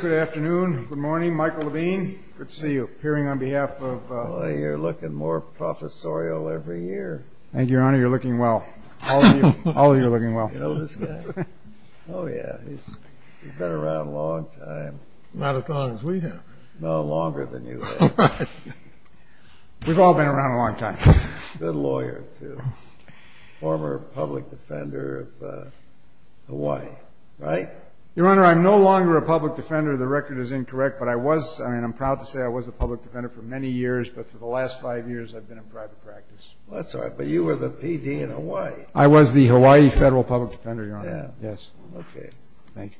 Good afternoon. Good morning. Michael Levine. Good to see you. Appearing on behalf of... Well, you're looking more professorial every year. Thank you, Your Honor. You're looking well. All of you. All of you are looking well. You know this guy? Oh, yeah. He's been around a long time. Not as long as we have. No, longer than you have. We've all been around a long time. Good lawyer, too. Former public defender of Hawaii, right? Your Honor, I'm no longer a public defender. The record is incorrect. But I was, I mean, I'm proud to say I was a public defender for many years. But for the last five years, I've been in private practice. That's all right. But you were the PD in Hawaii. I was the Hawaii Federal Public Defender, Your Honor. Yes. Okay. Thank you.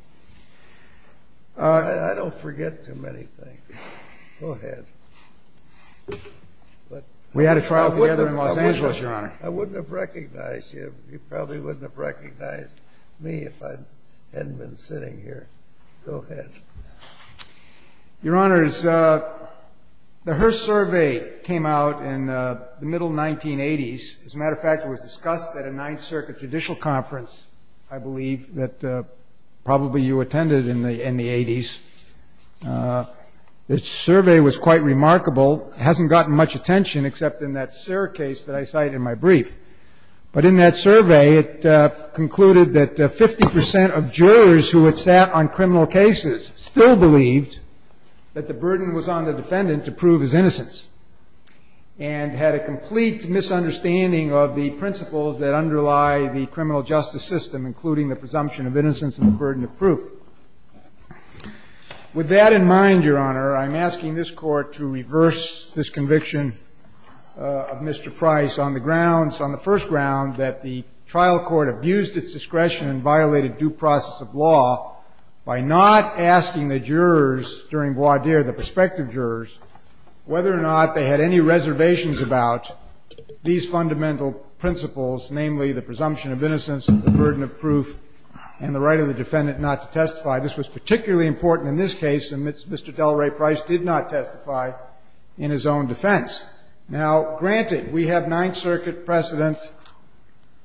I don't forget too many things. Go ahead. We had a trial together in Los Angeles, Your Honor. I wouldn't have recognized you. You probably wouldn't have recognized me if I hadn't been sitting here. Go ahead. Your Honor, the Hearst survey came out in the middle 1980s. As a matter of fact, it was discussed at a Ninth Circuit judicial conference, I believe, that probably you attended in the 80s. The survey was quite remarkable. It hasn't gotten much attention except in that Serra case that I cited in my brief. But in that survey, it concluded that 50 percent of jurors who had sat on criminal cases still believed that the burden was on the defendant to prove his innocence and had a complete misunderstanding of the principles that underlie the criminal justice system, With that in mind, Your Honor, I'm asking this Court to reverse this conviction of Mr. Price on the grounds, on the first ground, that the trial court abused its discretion and violated due process of law by not asking the jurors during voir dire, the prospective jurors, whether or not they had any reservations about these fundamental principles, namely the presumption of innocence, the burden of proof, and the right of the defendant not to testify. This was particularly important in this case, and Mr. Delray Price did not testify in his own defense. Now, granted, we have Ninth Circuit precedent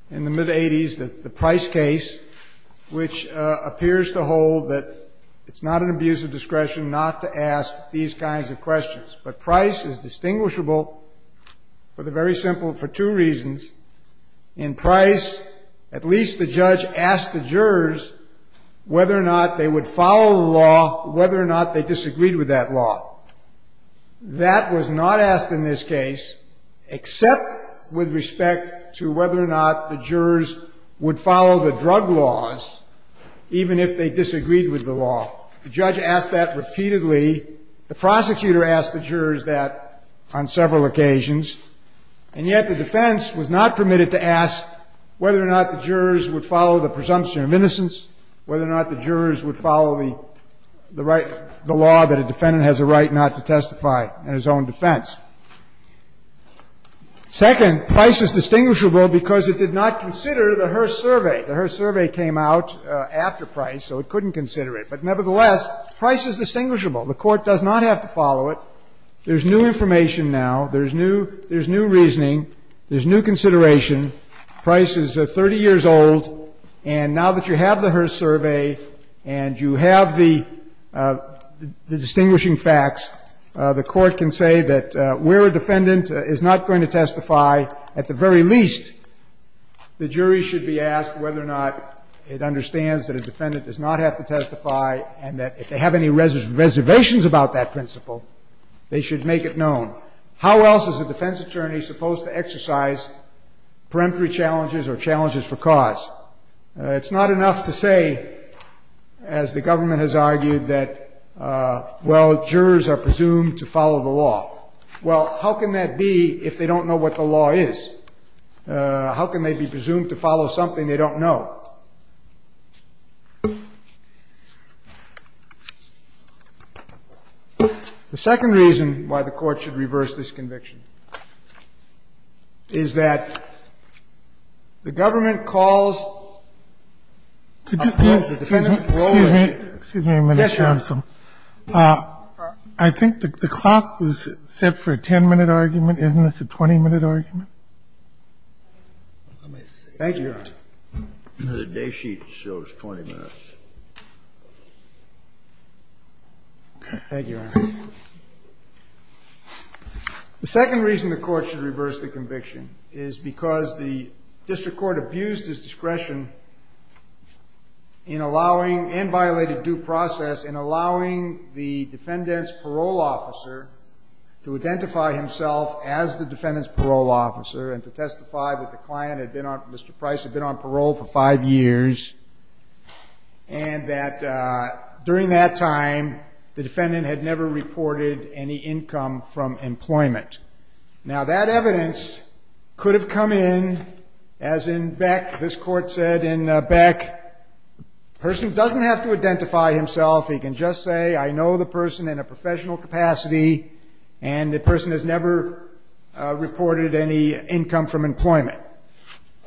in the mid-'80s, the Price case, which appears to hold that it's not an abuse of discretion not to ask these kinds of questions. But Price is distinguishable for the very simple, for two reasons. In Price, at least the judge asked the jurors whether or not they would follow the law, whether or not they disagreed with that law. That was not asked in this case, except with respect to whether or not the jurors would follow the drug laws, even if they disagreed with the law. The judge asked that repeatedly. The prosecutor asked the jurors that on several occasions. And yet the defense was not permitted to ask whether or not the jurors would follow the presumption of innocence, whether or not the jurors would follow the right, the law that a defendant has a right not to testify in his own defense. Second, Price is distinguishable because it did not consider the Hearst survey. The Hearst survey came out after Price, so it couldn't consider it. But nevertheless, Price is distinguishable. The Court does not have to follow it. There's new information now. There's new reasoning. There's new consideration. Price is 30 years old. And now that you have the Hearst survey and you have the distinguishing facts, the Court can say that where a defendant is not going to testify, at the very least the jury should be asked whether or not it understands that a defendant does not have to testify and that if they have any reservations about that principle, they should make it known. How else is a defense attorney supposed to exercise peremptory challenges or challenges for cause? It's not enough to say, as the government has argued, that, well, jurors are presumed to follow the law. Well, how can that be if they don't know what the law is? How can they be presumed to follow something they don't know? Now, the second reason why the Court should reverse this conviction is that the government calls a court that the defendant follows. Excuse me. Excuse me a minute, Your Honor. Yes, Your Honor. I think the clock was set for a 10-minute argument. Isn't this a 20-minute argument? Let me see. Thank you, Your Honor. The day sheet shows 20 minutes. Thank you, Your Honor. The second reason the Court should reverse the conviction is because the district court abused its discretion in allowing and violated due process in allowing to testify that the client, Mr. Price, had been on parole for five years and that during that time the defendant had never reported any income from employment. Now, that evidence could have come in as in Beck. This Court said in Beck, the person doesn't have to identify himself. He can just say, I know the person in a professional capacity, and the person has never reported any income from employment.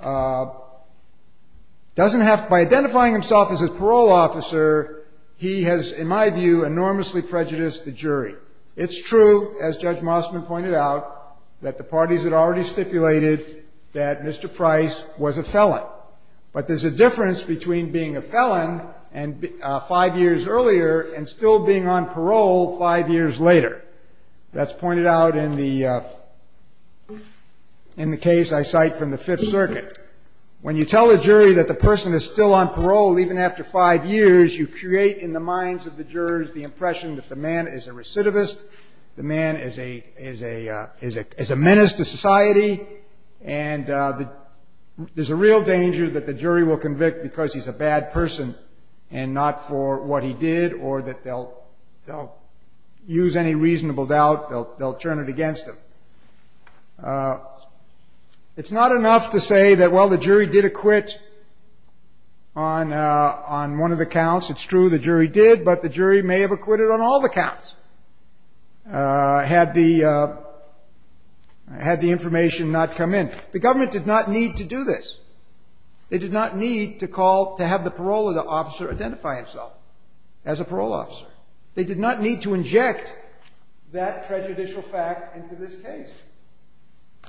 By identifying himself as a parole officer, he has, in my view, enormously prejudiced the jury. It's true, as Judge Mossman pointed out, that the parties had already stipulated that Mr. Price was a felon. But there's a difference between being a felon five years earlier and still being on parole five years later. That's pointed out in the case I cite from the Fifth Circuit. When you tell a jury that the person is still on parole even after five years, you create in the minds of the jurors the impression that the man is a recidivist, the man is a menace to society, and there's a real danger that the jury will convict because he's a They'll use any reasonable doubt. They'll turn it against him. It's not enough to say that, well, the jury did acquit on one of the counts. It's true, the jury did, but the jury may have acquitted on all the counts had the information not come in. The government did not need to do this. They did not need to call to have the parole officer identify himself as a parole officer. They did not need to inject that prejudicial fact into this case.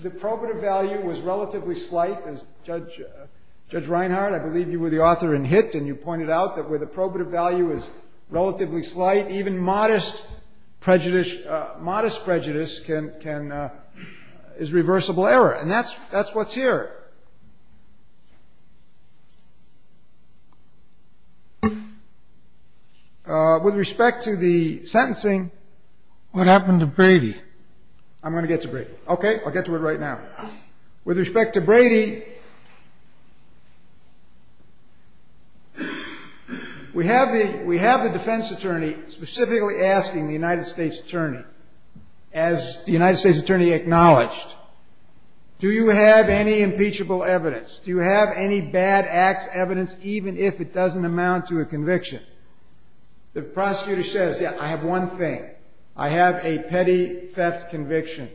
The probative value was relatively slight, as Judge Reinhart, I believe you were the author in Hitt and you pointed out, that where the probative value is relatively slight, even modest prejudice is reversible error. And that's what's here. With respect to the sentencing. What happened to Brady? I'm going to get to Brady. Okay, I'll get to it right now. With respect to Brady, we have the defense attorney specifically asking the United States attorney acknowledged, do you have any impeachable evidence? Do you have any bad acts evidence, even if it doesn't amount to a conviction? The prosecutor says, yeah, I have one thing. I have a petty theft conviction.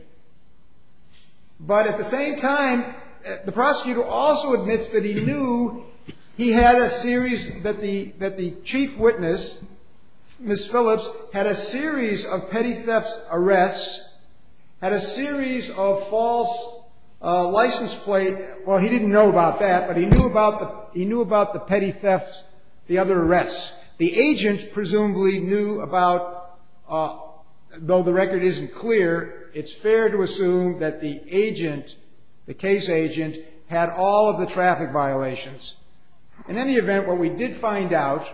But at the same time, the prosecutor also admits that he knew he had a series that the chief witness, Ms. Phillips, had a series of petty thefts arrests, had a series of false license plates. Well, he didn't know about that, but he knew about the petty thefts, the other arrests. The agent presumably knew about, though the record isn't clear, it's fair to assume that the agent, the case agent, had all of the traffic violations. In any event, what we did find out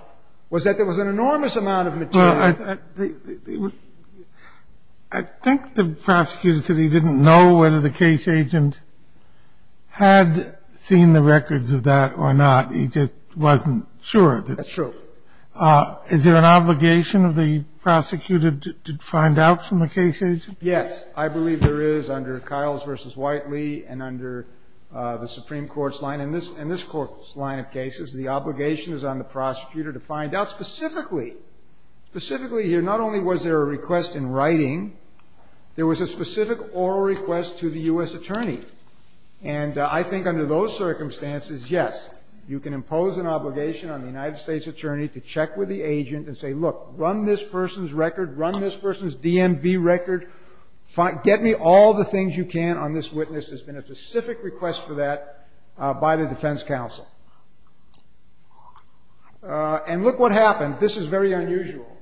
was that there was an enormous amount of material. Well, I think the prosecutor said he didn't know whether the case agent had seen the records of that or not. He just wasn't sure. That's true. Is there an obligation of the prosecutor to find out from the case agent? Yes. I believe there is under Kiles v. Whiteley and under the Supreme Court's line. In this Court's line of cases, the obligation is on the prosecutor to find out specifically. Specifically here, not only was there a request in writing, there was a specific oral request to the U.S. attorney. And I think under those circumstances, yes, you can impose an obligation on the United States attorney to check with the agent and say, look, run this person's record, run this person's record, get me all the things you can on this witness. There's been a specific request for that by the defense counsel. And look what happened. This is very unusual.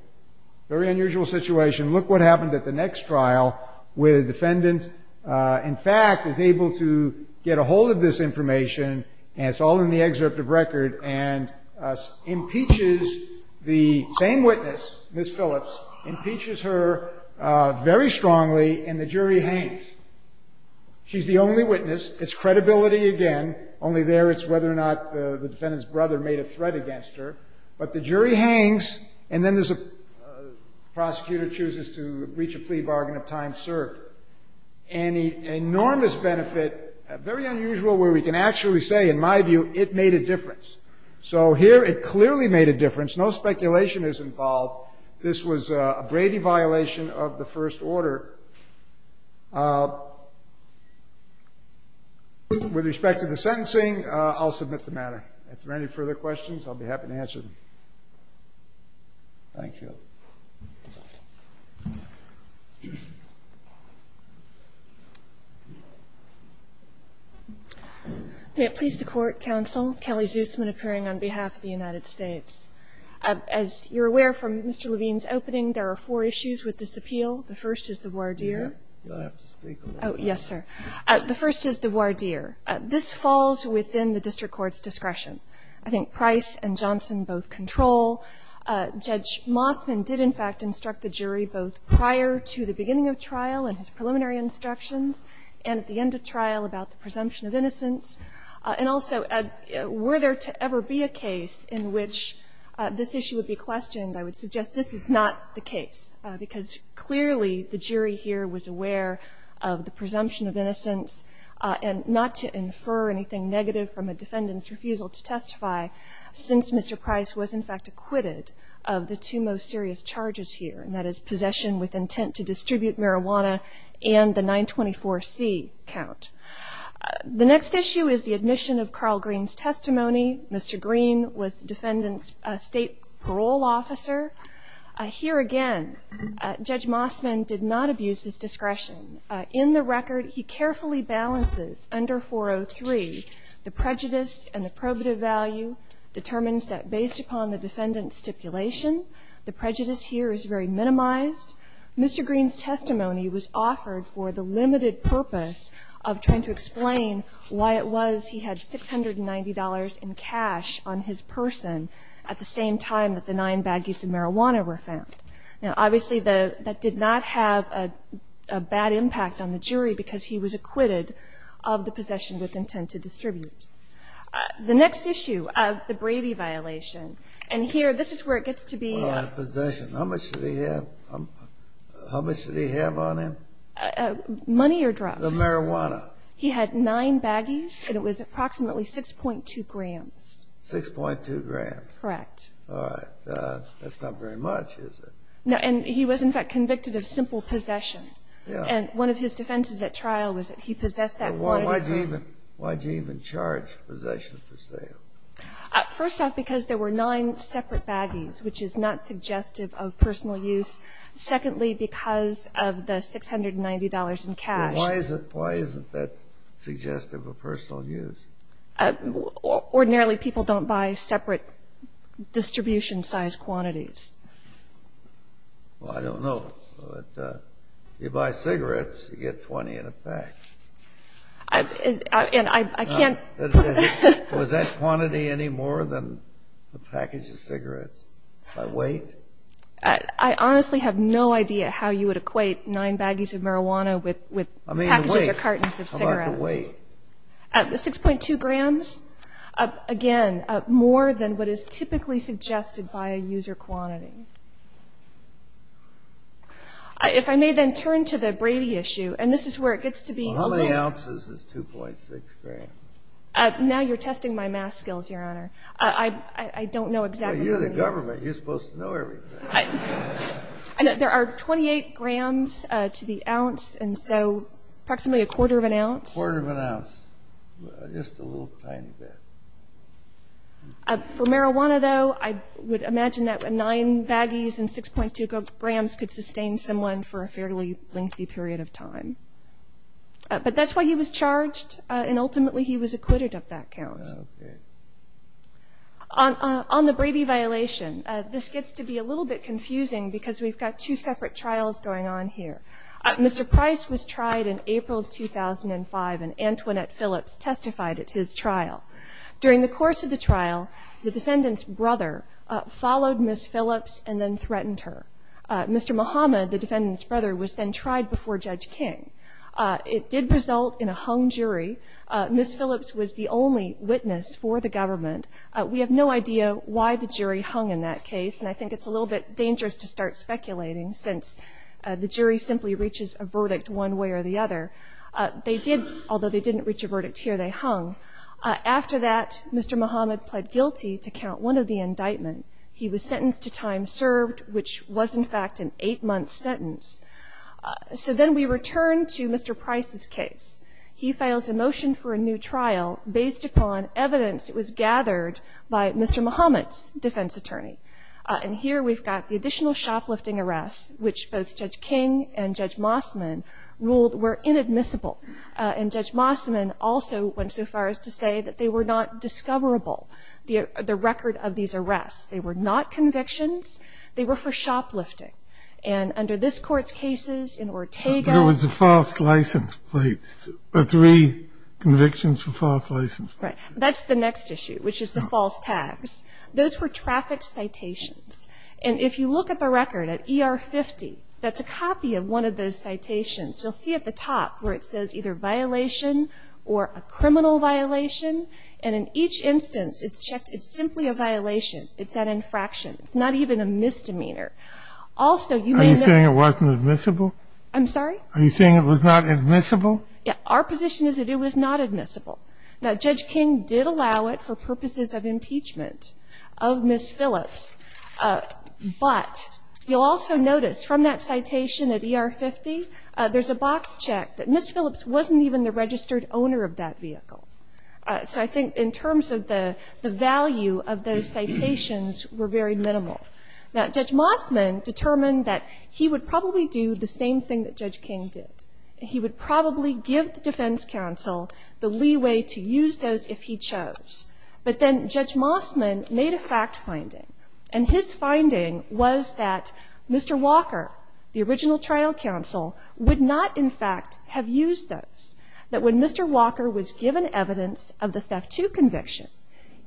Very unusual situation. Look what happened at the next trial where the defendant, in fact, is able to get a hold of this information, and it's all in the excerpt of record, and impeaches the same witness, Ms. Phillips, impeaches her very strongly, and the jury hangs. She's the only witness. It's credibility again. Only there it's whether or not the defendant's brother made a threat against her. But the jury hangs, and then there's a prosecutor chooses to breach a plea bargain of time served. And an enormous benefit, very unusual where we can actually say, in my view, it made a difference. So here it clearly made a difference. No speculation is involved. This was a Brady violation of the first order. With respect to the sentencing, I'll submit the matter. If there are any further questions, I'll be happy to answer them. Thank you. Ms. Phillips. May it please the Court, counsel. Kelly Zusman appearing on behalf of the United States. As you're aware from Mr. Levine's opening, there are four issues with this appeal. The first is the voir dire. You'll have to speak on that. Oh, yes, sir. The first is the voir dire. This falls within the district court's discretion. I think Price and Johnson both control. Judge Mossman did, in fact, instruct the jury both prior to the beginning of trial and his preliminary instructions and at the end of trial about the presumption of innocence. And also, were there to ever be a case in which this issue would be questioned, I would suggest this is not the case, because clearly the jury here was aware of the presumption of innocence and not to infer anything negative from a defendant's acquitted of the two most serious charges here, and that is possession with intent to distribute marijuana and the 924C count. The next issue is the admission of Carl Green's testimony. Mr. Green was the defendant's state parole officer. Here again, Judge Mossman did not abuse his discretion. In the record, he carefully balances under 403 the prejudice and the probative value, determines that based upon the defendant's stipulation, the prejudice here is very minimized. Mr. Green's testimony was offered for the limited purpose of trying to explain why it was he had $690 in cash on his person at the same time that the nine baggies of marijuana were found. Now, obviously, that did not have a bad impact on the jury because he was acquitted of the possession with intent to distribute. The next issue, the Brady violation. And here, this is where it gets to be. Possession. How much did he have? How much did he have on him? Money or drugs. The marijuana. He had nine baggies, and it was approximately 6.2 grams. 6.2 grams. Correct. All right. That's not very much, is it? No. And he was, in fact, convicted of simple possession. Yeah. And one of his defenses at trial was that he possessed that. Why did you even charge possession for sale? First off, because there were nine separate baggies, which is not suggestive of personal use. Secondly, because of the $690 in cash. Why isn't that suggestive of personal use? Ordinarily, people don't buy separate distribution size quantities. Well, I don't know. You buy cigarettes, you get 20 in a pack. And I can't. Was that quantity any more than the package of cigarettes? By weight? I honestly have no idea how you would equate nine baggies of marijuana with packages or cartons of cigarettes. How about the weight? 6.2 grams. Again, more than what is typically suggested by a user quantity. If I may then turn to the Brady issue. And this is where it gets to be a little bit. How many ounces is 2.6 grams? Now you're testing my math skills, Your Honor. I don't know exactly how many ounces. You're the government. You're supposed to know everything. There are 28 grams to the ounce, and so approximately a quarter of an ounce. A quarter of an ounce. Just a little tiny bit. For marijuana, though, I would imagine that nine baggies and 6.2 grams could sustain someone for a fairly lengthy period of time. But that's why he was charged, and ultimately he was acquitted of that count. Okay. On the Brady violation, this gets to be a little bit confusing because we've got two separate trials going on here. Mr. Price was tried in April of 2005, and Antoinette Phillips testified at his trial. During the course of the trial, the defendant's brother followed Ms. Phillips and then threatened her. Mr. Muhammad, the defendant's brother, was then tried before Judge King. It did result in a hung jury. Ms. Phillips was the only witness for the government. We have no idea why the jury hung in that case, and I think it's a little bit dangerous to start speculating since the jury simply reaches a verdict one way or the other. Although they didn't reach a verdict here, they hung. After that, Mr. Muhammad pled guilty to count one of the indictments. He was sentenced to time served, which was, in fact, an eight-month sentence. So then we return to Mr. Price's case. He files a motion for a new trial based upon evidence that was gathered by Mr. Muhammad's defense attorney. And here we've got the additional shoplifting arrests, which both Judge King and Judge Mossman ruled were inadmissible. And Judge Mossman also went so far as to say that they were not discoverable, the record of these arrests. They were not convictions. They were for shoplifting. And under this Court's cases, in Ortega... There was a false license plate, or three convictions for false license plates. Right. That's the next issue, which is the false tags. Those were traffic citations. And if you look at the record, at ER 50, that's a copy of one of those citations. You'll see at the top where it says either violation or a criminal violation. And in each instance, it's checked it's simply a violation. It's an infraction. It's not even a misdemeanor. Also, you may know... Are you saying it wasn't admissible? I'm sorry? Are you saying it was not admissible? Yeah. Our position is that it was not admissible. Now, Judge King did allow it for purposes of impeachment of Ms. Phillips. But you'll also notice from that citation at ER 50, there's a box check that Ms. Phillips wasn't even the registered owner of that vehicle. So I think in terms of the value of those citations were very minimal. Now, Judge Mossman determined that he would probably do the same thing that Judge King did. He would probably give the defense counsel the leeway to use those if he chose. But then Judge Mossman made a fact finding. And his finding was that Mr. Walker, the original trial counsel, would not, in fact, have used those. That when Mr. Walker was given evidence of the theft II conviction,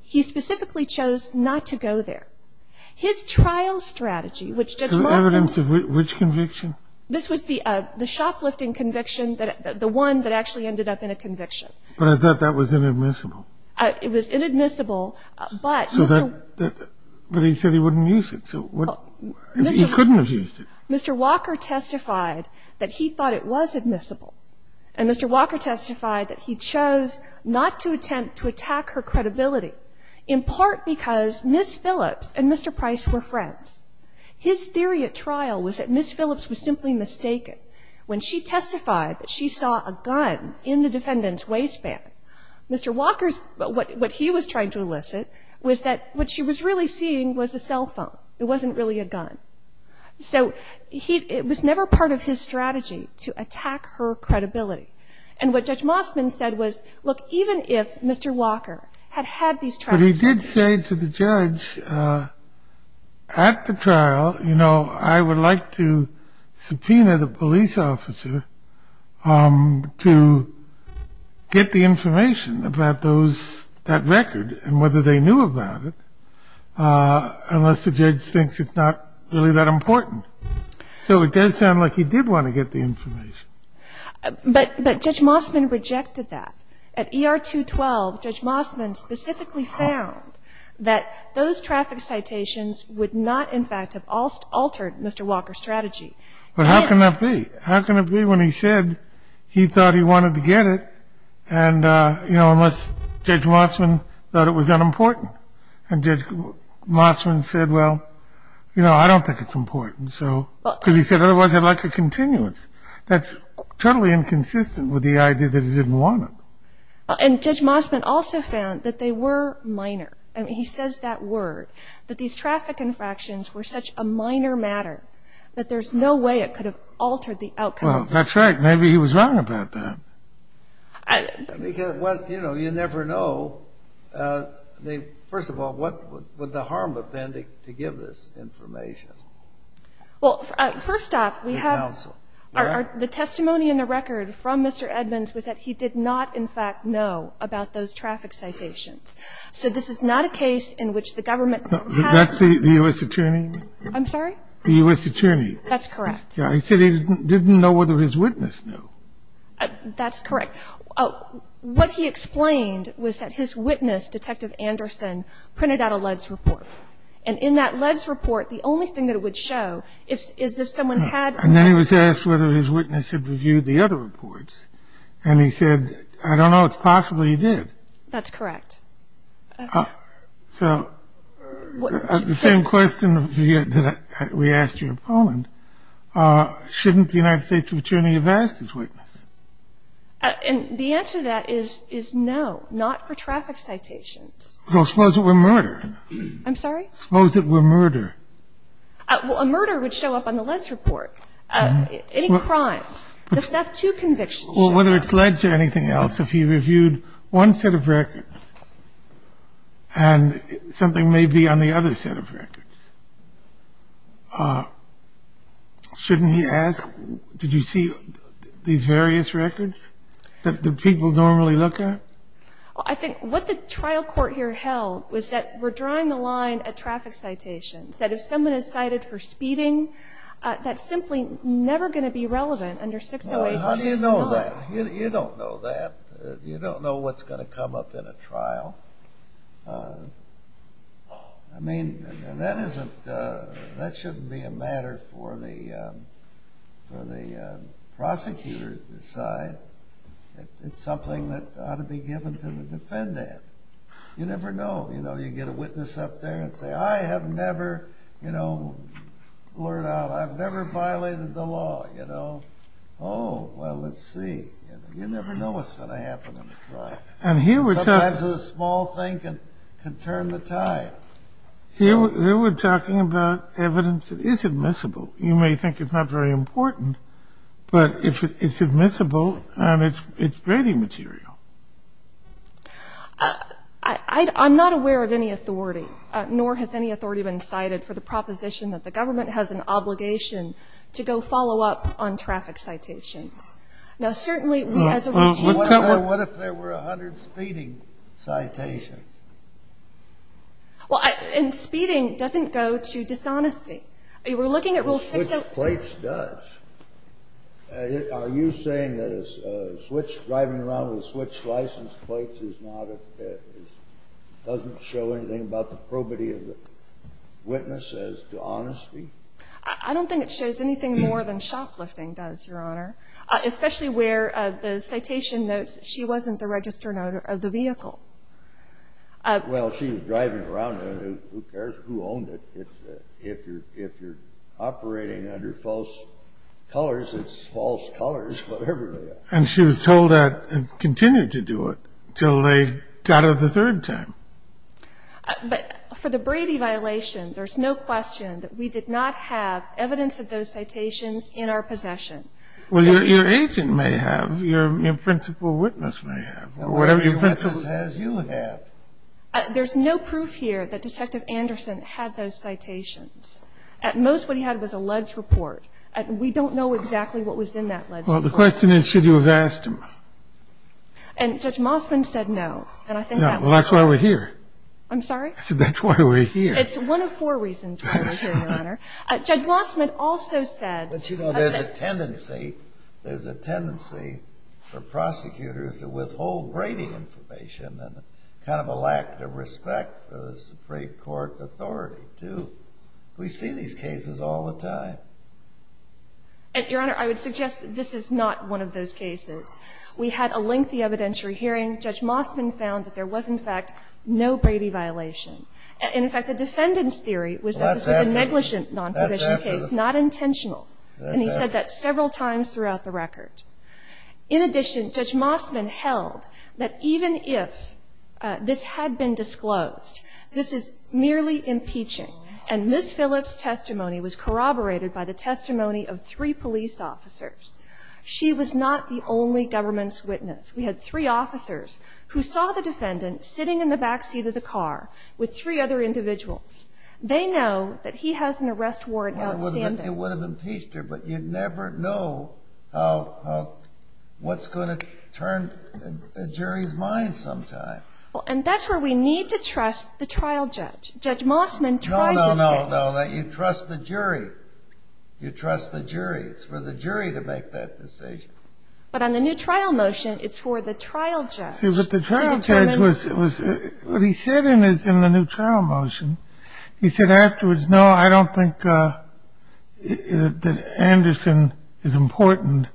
he specifically chose not to go there. His trial strategy, which Judge Mossman... Evidence of which conviction? This was the shoplifting conviction, the one that actually ended up in a conviction. But I thought that was inadmissible. It was inadmissible, but... But he said he wouldn't use it. He couldn't have used it. Mr. Walker testified that he thought it was admissible. And Mr. Walker testified that he chose not to attempt to attack her credibility, in part because Ms. Phillips and Mr. Price were friends. His theory at trial was that Ms. Phillips was simply mistaken when she testified that she saw a gun in the defendant's waistband. Mr. Walker's – what he was trying to elicit was that what she was really seeing was a cell phone. It wasn't really a gun. So he – it was never part of his strategy to attack her credibility. And what Judge Mossman said was, look, even if Mr. Walker had had these... But he did say to the judge at the trial, you know, I would like to subpoena the police officer to get the information about those – that record and whether they knew about it, unless the judge thinks it's not really that important. So it does sound like he did want to get the information. But Judge Mossman rejected that. At ER-212, Judge Mossman specifically found that those traffic citations would not, in fact, have altered Mr. Walker's strategy. But how can that be? How can it be when he said he thought he wanted to get it and, you know, unless Judge Mossman thought it was unimportant? And Judge Mossman said, well, you know, I don't think it's important. Because he said, otherwise I'd like a continuance. That's totally inconsistent with the idea that he didn't want it. And Judge Mossman also found that they were minor. I mean, he says that word, that these traffic infractions were such a minor matter that there's no way it could have altered the outcome. Well, that's right. Maybe he was wrong about that. Because, you know, you never know. First of all, what would the harm have been to give this information? Well, first off, we have the testimony in the record from Mr. Edmonds was that he did not, in fact, know about those traffic citations. So this is not a case in which the government has to say the U.S. Attorney. I'm sorry? The U.S. Attorney. That's correct. He said he didn't know whether his witness knew. That's correct. What he explained was that his witness, Detective Anderson, printed out a LEDS report. And in that LEDS report, the only thing that it would show is if someone had read it. And then he was asked whether his witness had reviewed the other reports. And he said, I don't know. It's possible he did. That's correct. So the same question that we asked your opponent, shouldn't the United States Attorney have asked his witness? And the answer to that is no, not for traffic citations. Well, suppose it were murder. I'm sorry? Suppose it were murder. Well, a murder would show up on the LEDS report. Any crimes. The theft to conviction show up. Well, whether it's LEDS or anything else, if he reviewed one set of records and something may be on the other set of records, shouldn't he ask, did you see these various records that the people normally look at? I think what the trial court here held was that we're drawing the line at traffic citations, that if someone is cited for speeding, that's simply never going to be relevant under 608. How do you know that? You don't know that. You don't know what's going to come up in a trial. I mean, that shouldn't be a matter for the prosecutor to decide. It's something that ought to be given to the defendant. You never know. You know, you get a witness up there and say, I have never, you know, blurred out, I've never violated the law, you know. Oh, well, let's see. You never know what's going to happen in a trial. Sometimes a small thing can turn the tide. Here we're talking about evidence that is admissible. You may think it's not very important, but it's admissible and it's grading material. I'm not aware of any authority, nor has any authority been cited for the proposition that the government has an obligation to go follow up on traffic citations. Now, certainly as a regime. What if there were 100 speeding citations? Well, and speeding doesn't go to dishonesty. We're looking at Rule 60. Well, switch plates does. Are you saying that a switch driving around with switch license plates is not a – doesn't show anything about the probity of the witness as to honesty? I don't think it shows anything more than shoplifting does, Your Honor, especially where the citation notes she wasn't the registered owner of the vehicle. Well, she was driving around. Who cares who owned it? If you're operating under false colors, it's false colors, whatever they are. And she was told that and continued to do it until they got her the third time. But for the Brady violation, there's no question that we did not have evidence of those citations in our possession. Well, your agent may have. Your principal witness may have. Whatever your principal witness has, you have. There's no proof here that Detective Anderson had those citations. At most, what he had was a ledge report. We don't know exactly what was in that ledge report. Well, the question is, should you have asked him? And Judge Mossman said no, and I think that was true. Well, that's why we're here. I'm sorry? I said, that's why we're here. It's one of four reasons why we're here, Your Honor. Judge Mossman also said – But, you know, there's a tendency for prosecutors to withhold Brady information and kind of a lack of respect for the Supreme Court authority, too. We see these cases all the time. Your Honor, I would suggest that this is not one of those cases. We had a lengthy evidentiary hearing. Judge Mossman found that there was, in fact, no Brady violation. In fact, the defendant's theory was that this was a negligent non-provision case, not intentional. And he said that several times throughout the record. In addition, Judge Mossman held that even if this had been disclosed, this is merely impeaching. And Ms. Phillips' testimony was corroborated by the testimony of three police officers. She was not the only government's witness. We had three officers who saw the defendant sitting in the back seat of the car with three other individuals. They know that he has an arrest warrant outstanding. It would have impeached her, but you never know what's going to turn a jury's mind sometime. And that's where we need to trust the trial judge. Judge Mossman tried this case. No, no, no. You trust the jury. You trust the jury. It's for the jury to make that decision. But on the new trial motion, it's for the trial judge. See, but the trial judge was – what he said in the new trial motion, he said afterwards, no, I don't think that Anderson is important,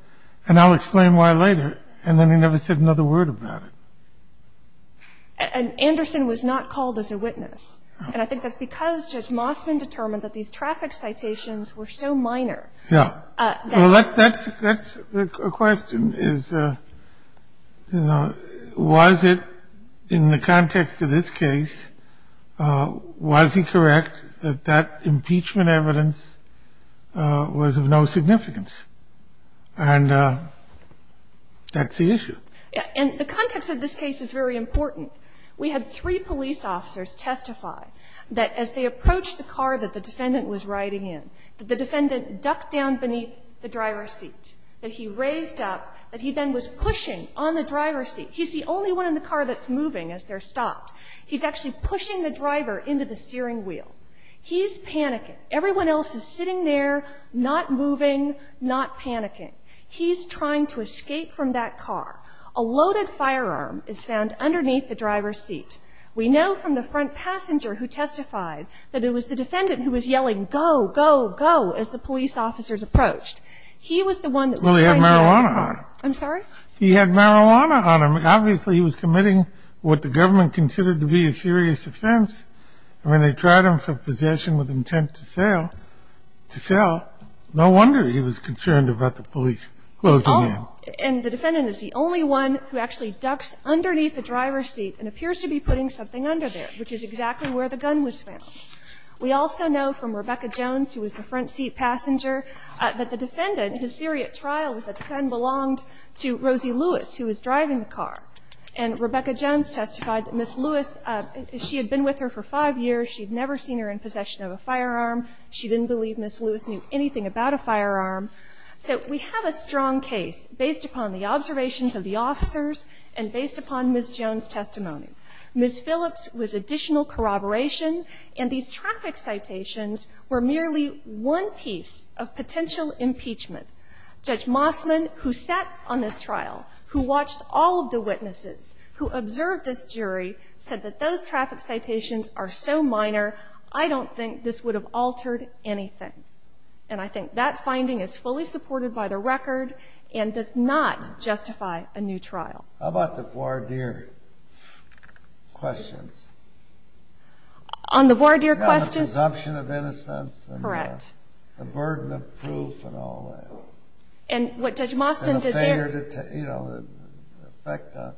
and I'll explain why later. And then he never said another word about it. And Anderson was not called as a witness. And I think that's because Judge Mossman determined that these traffic citations were so minor. Yeah. Well, that's a question is, you know, was it in the context of this case, was he correct that that impeachment evidence was of no significance? And that's the issue. Yeah. And the context of this case is very important. We had three police officers testify that as they approached the car that the defendant was riding in, that the defendant ducked down beneath the driver's seat, that he raised up, that he then was pushing on the driver's seat. He's the only one in the car that's moving as they're stopped. He's actually pushing the driver into the steering wheel. He's panicking. Everyone else is sitting there, not moving, not panicking. He's trying to escape from that car. A loaded firearm is found underneath the driver's seat. We know from the front passenger who testified that it was the defendant who was yelling, go, go, go, as the police officers approached. He was the one that was riding in. Well, he had marijuana on him. I'm sorry? He had marijuana on him. Obviously, he was committing what the government considered to be a serious offense. And when they tried him for possession with intent to sell, no wonder he was concerned about the police closing in. And the defendant is the only one who actually ducks underneath the driver's seat and appears to be putting something under there, which is exactly where the gun was found. We also know from Rebecca Jones, who was the front seat passenger, that the defendant, his theory at trial was that the gun belonged to Rosie Lewis, who was driving the car. And Rebecca Jones testified that Ms. Lewis, she had been with her for five years. She had never seen her in possession of a firearm. She didn't believe Ms. Lewis knew anything about a firearm. So we have a strong case based upon the observations of the officers and based upon Ms. Jones' testimony. Ms. Phillips was additional corroboration, and these traffic citations were merely one piece of potential impeachment. Judge Mossman, who sat on this trial, who watched all of the witnesses, who observed this jury, said that those traffic citations are so minor, I don't think this would have altered anything. And I think that finding is fully supported by the record and does not justify a new trial. How about the voir dire questions? On the voir dire questions? The presumption of innocence. Correct. The burden of proof and all that. And what Judge Mossman did there. You know, the effect on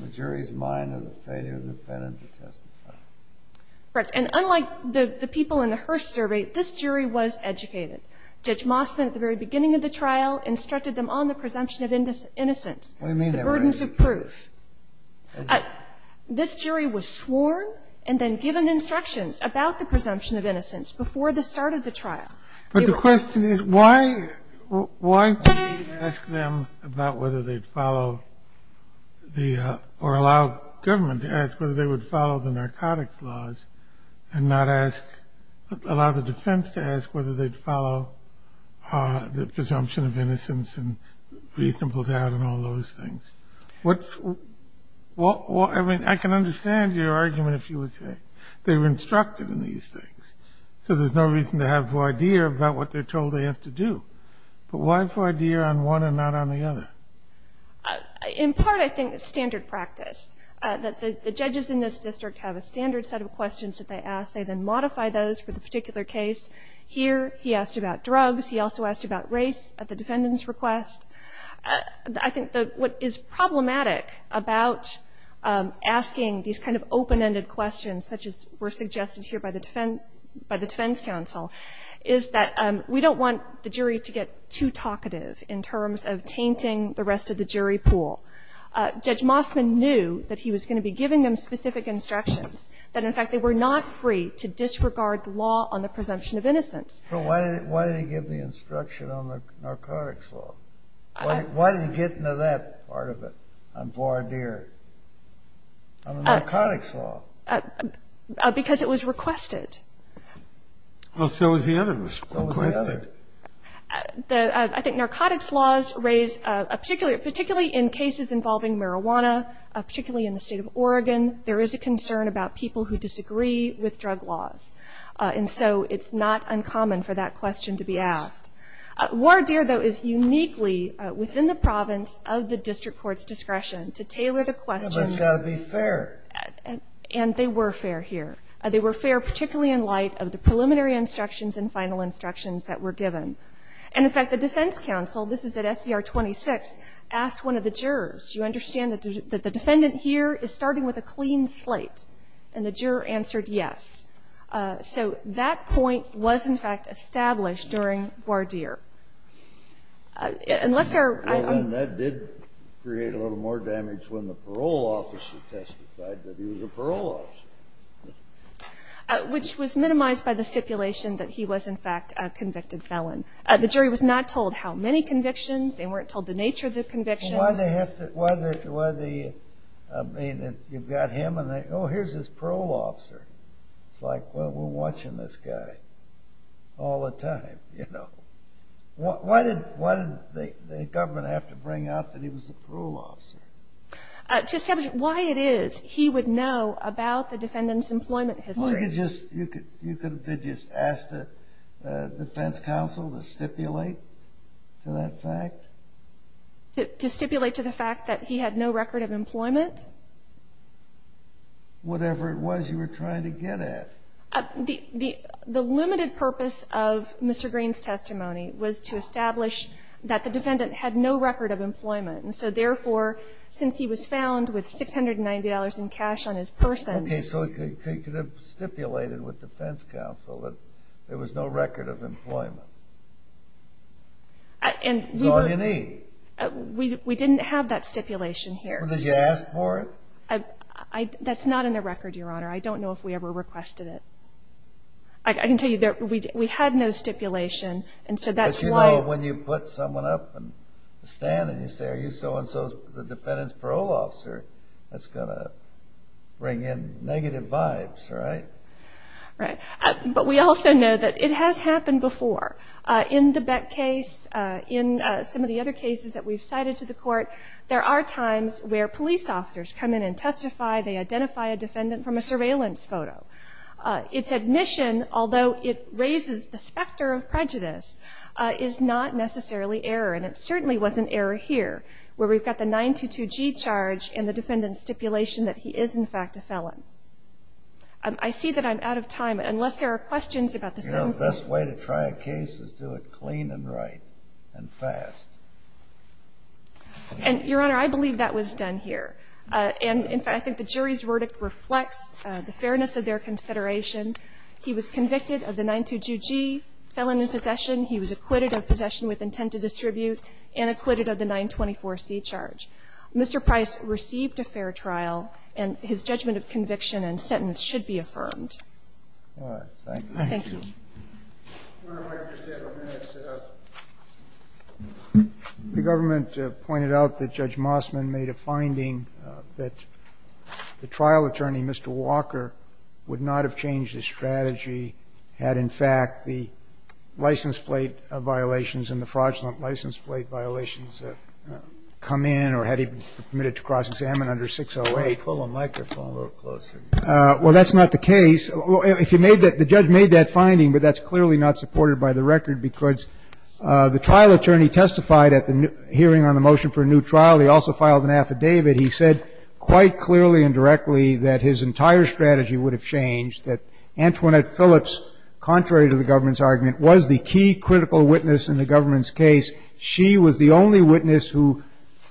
the jury's mind of the failure of the defendant to testify. And unlike the people in the Hearst survey, this jury was educated. Judge Mossman at the very beginning of the trial instructed them on the presumption of innocence. What do you mean? The burdens of proof. This jury was sworn and then given instructions about the presumption of innocence before the start of the trial. But the question is, why do you ask them about whether they'd follow the or allow government to ask whether they would follow the narcotics laws and not allow the defense to ask whether they'd follow the presumption of innocence and reasonable doubt and all those things? I mean, I can understand your argument, if you would say. They were instructed in these things. So there's no reason to have voir dire about what they're told they have to do. But why voir dire on one and not on the other? In part, I think it's standard practice. The judges in this district have a standard set of questions that they ask. They then modify those for the particular case. Here, he asked about drugs. He also asked about race at the defendant's request. I think what is problematic about asking these kind of open-ended questions, such as were suggested here by the defense counsel, is that we don't want the jury to get too talkative in terms of tainting the rest of the jury pool. Judge Mossman knew that he was going to be giving them specific instructions, that, in fact, they were not free to disregard the law on the presumption of innocence. But why did he give the instruction on the narcotics law? Why did he get into that part of it, on voir dire, on the narcotics law? Because it was requested. Well, so was the other request. So was the other. I think narcotics laws raise, particularly in cases involving marijuana, particularly in the state of Oregon, there is a concern about people who disagree with drug laws. And so it's not uncommon for that question to be asked. Voir dire, though, is uniquely within the province of the district court's discretion to tailor the questions. But it's got to be fair. And they were fair here. They were fair particularly in light of the preliminary instructions and final instructions that were given. And, in fact, the defense counsel, this is at SCR 26, asked one of the jurors, do you understand that the defendant here is starting with a clean slate? And the juror answered yes. So that point was, in fact, established during voir dire. Unless there are others. Which was minimized by the stipulation that he was, in fact, a convicted felon. The jury was not told how many convictions. They weren't told the nature of the convictions. Well, why did they have to? I mean, you've got him and, oh, here's this parole officer. It's like, well, we're watching this guy all the time, you know. Why did the government have to bring out that he was a parole officer? To establish why it is he would know about the defendant's employment history. You could have just asked the defense counsel to stipulate to that fact? To stipulate to the fact that he had no record of employment? Whatever it was you were trying to get at. The limited purpose of Mr. Green's testimony was to establish that the defendant had no record of employment. And so, therefore, since he was found with $690 in cash on his person. Okay, so he could have stipulated with defense counsel that there was no record of employment. That's all you need. We didn't have that stipulation here. Well, did you ask for it? That's not in the record, Your Honor. I don't know if we ever requested it. I can tell you that we had no stipulation, and so that's why. Well, when you put someone up and stand and you say, are you so-and-so's the defendant's parole officer, that's going to bring in negative vibes, right? Right. But we also know that it has happened before. In the Beck case, in some of the other cases that we've cited to the court, there are times where police officers come in and testify. They identify a defendant from a surveillance photo. Its admission, although it raises the specter of prejudice, is not necessarily error. And it certainly wasn't error here, where we've got the 922G charge and the defendant's stipulation that he is, in fact, a felon. I see that I'm out of time, unless there are questions about the sentencing. You know, the best way to try a case is do it clean and right and fast. And, Your Honor, I believe that was done here. And, in fact, I think the jury's verdict reflects the fairness of their consideration. He was convicted of the 922G felony possession. He was acquitted of possession with intent to distribute and acquitted of the 924C charge. Mr. Price received a fair trial, and his judgment of conviction and sentence should be affirmed. Thank you. Thank you. Your Honor, if I could just have a minute. The government pointed out that Judge Mossman made a finding that the trial attorney, Mr. Walker, would not have changed his strategy had, in fact, the license plate violations and the fraudulent license plate violations come in or had he been permitted to cross-examine under 608. Pull the microphone a little closer. Well, that's not the case. The judge made that finding, but that's clearly not supported by the record because the trial attorney testified at the hearing on the motion for a new trial. He also filed an affidavit. He said quite clearly and directly that his entire strategy would have changed, that Antoinette Phillips, contrary to the government's argument, was the key critical witness in the government's case. She was the only witness who,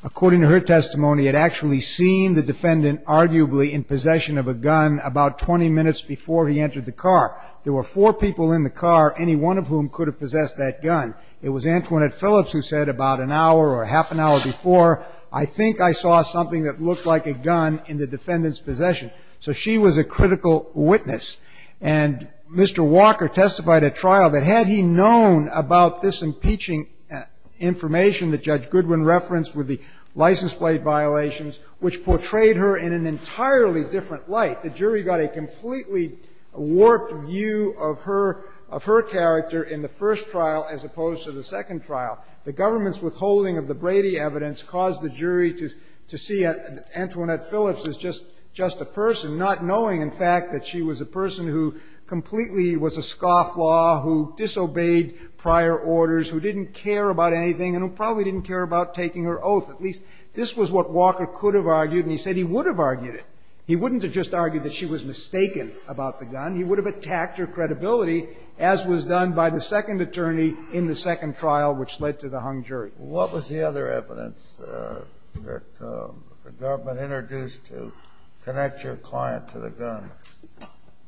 according to her testimony, had actually seen the defendant arguably in possession of a gun about 20 minutes before he entered the car. There were four people in the car, any one of whom could have possessed that gun. It was Antoinette Phillips who said about an hour or half an hour before, I think I saw something that looked like a gun in the defendant's possession. So she was a critical witness. And Mr. Walker testified at trial that had he known about this impeaching information that Judge Goodwin referenced with the license plate violations, which portrayed her in an entirely different light. The jury got a completely warped view of her character in the first trial as opposed to the second trial. The government's withholding of the Brady evidence caused the jury to see Antoinette Phillips as just a person, not knowing, in fact, that she was a person who completely was a scofflaw, who disobeyed prior orders, who didn't care about anything and who probably didn't care about taking her oath. At least this was what Walker could have argued, and he said he would have argued it. He wouldn't have just argued that she was mistaken about the gun. He would have attacked her credibility, as was done by the second attorney in the second trial, which led to the hung jury. What was the other evidence that the government introduced to connect your client to the gun?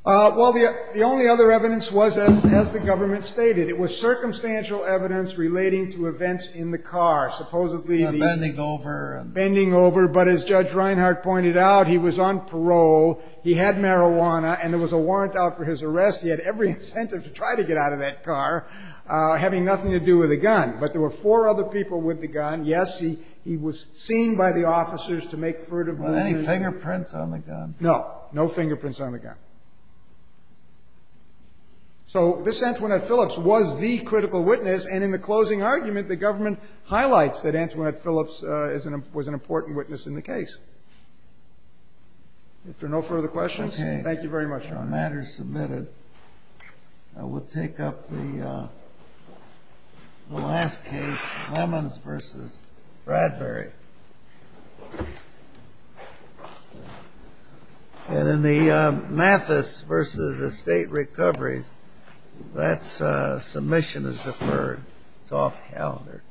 Well, the only other evidence was, as the government stated, it was circumstantial evidence relating to events in the car. Supposedly the- Bending over. Bending over. But as Judge Reinhart pointed out, he was on parole, he had marijuana, and there was a warrant out for his arrest. He had every incentive to try to get out of that car, having nothing to do with the gun. But there were four other people with the gun. Yes, he was seen by the officers to make furtive moves. Were there any fingerprints on the gun? No. No fingerprints on the gun. So this Antoinette Phillips was the critical witness, and in the closing argument, the government highlights that Antoinette Phillips was an important witness in the case. If there are no further questions, thank you very much, Your Honor. Okay, the matter is submitted. We'll take up the last case, Lemons v. Bradbury. And in the Mathis v. Estate Recoveries, that submission is deferred. It's off the calendar.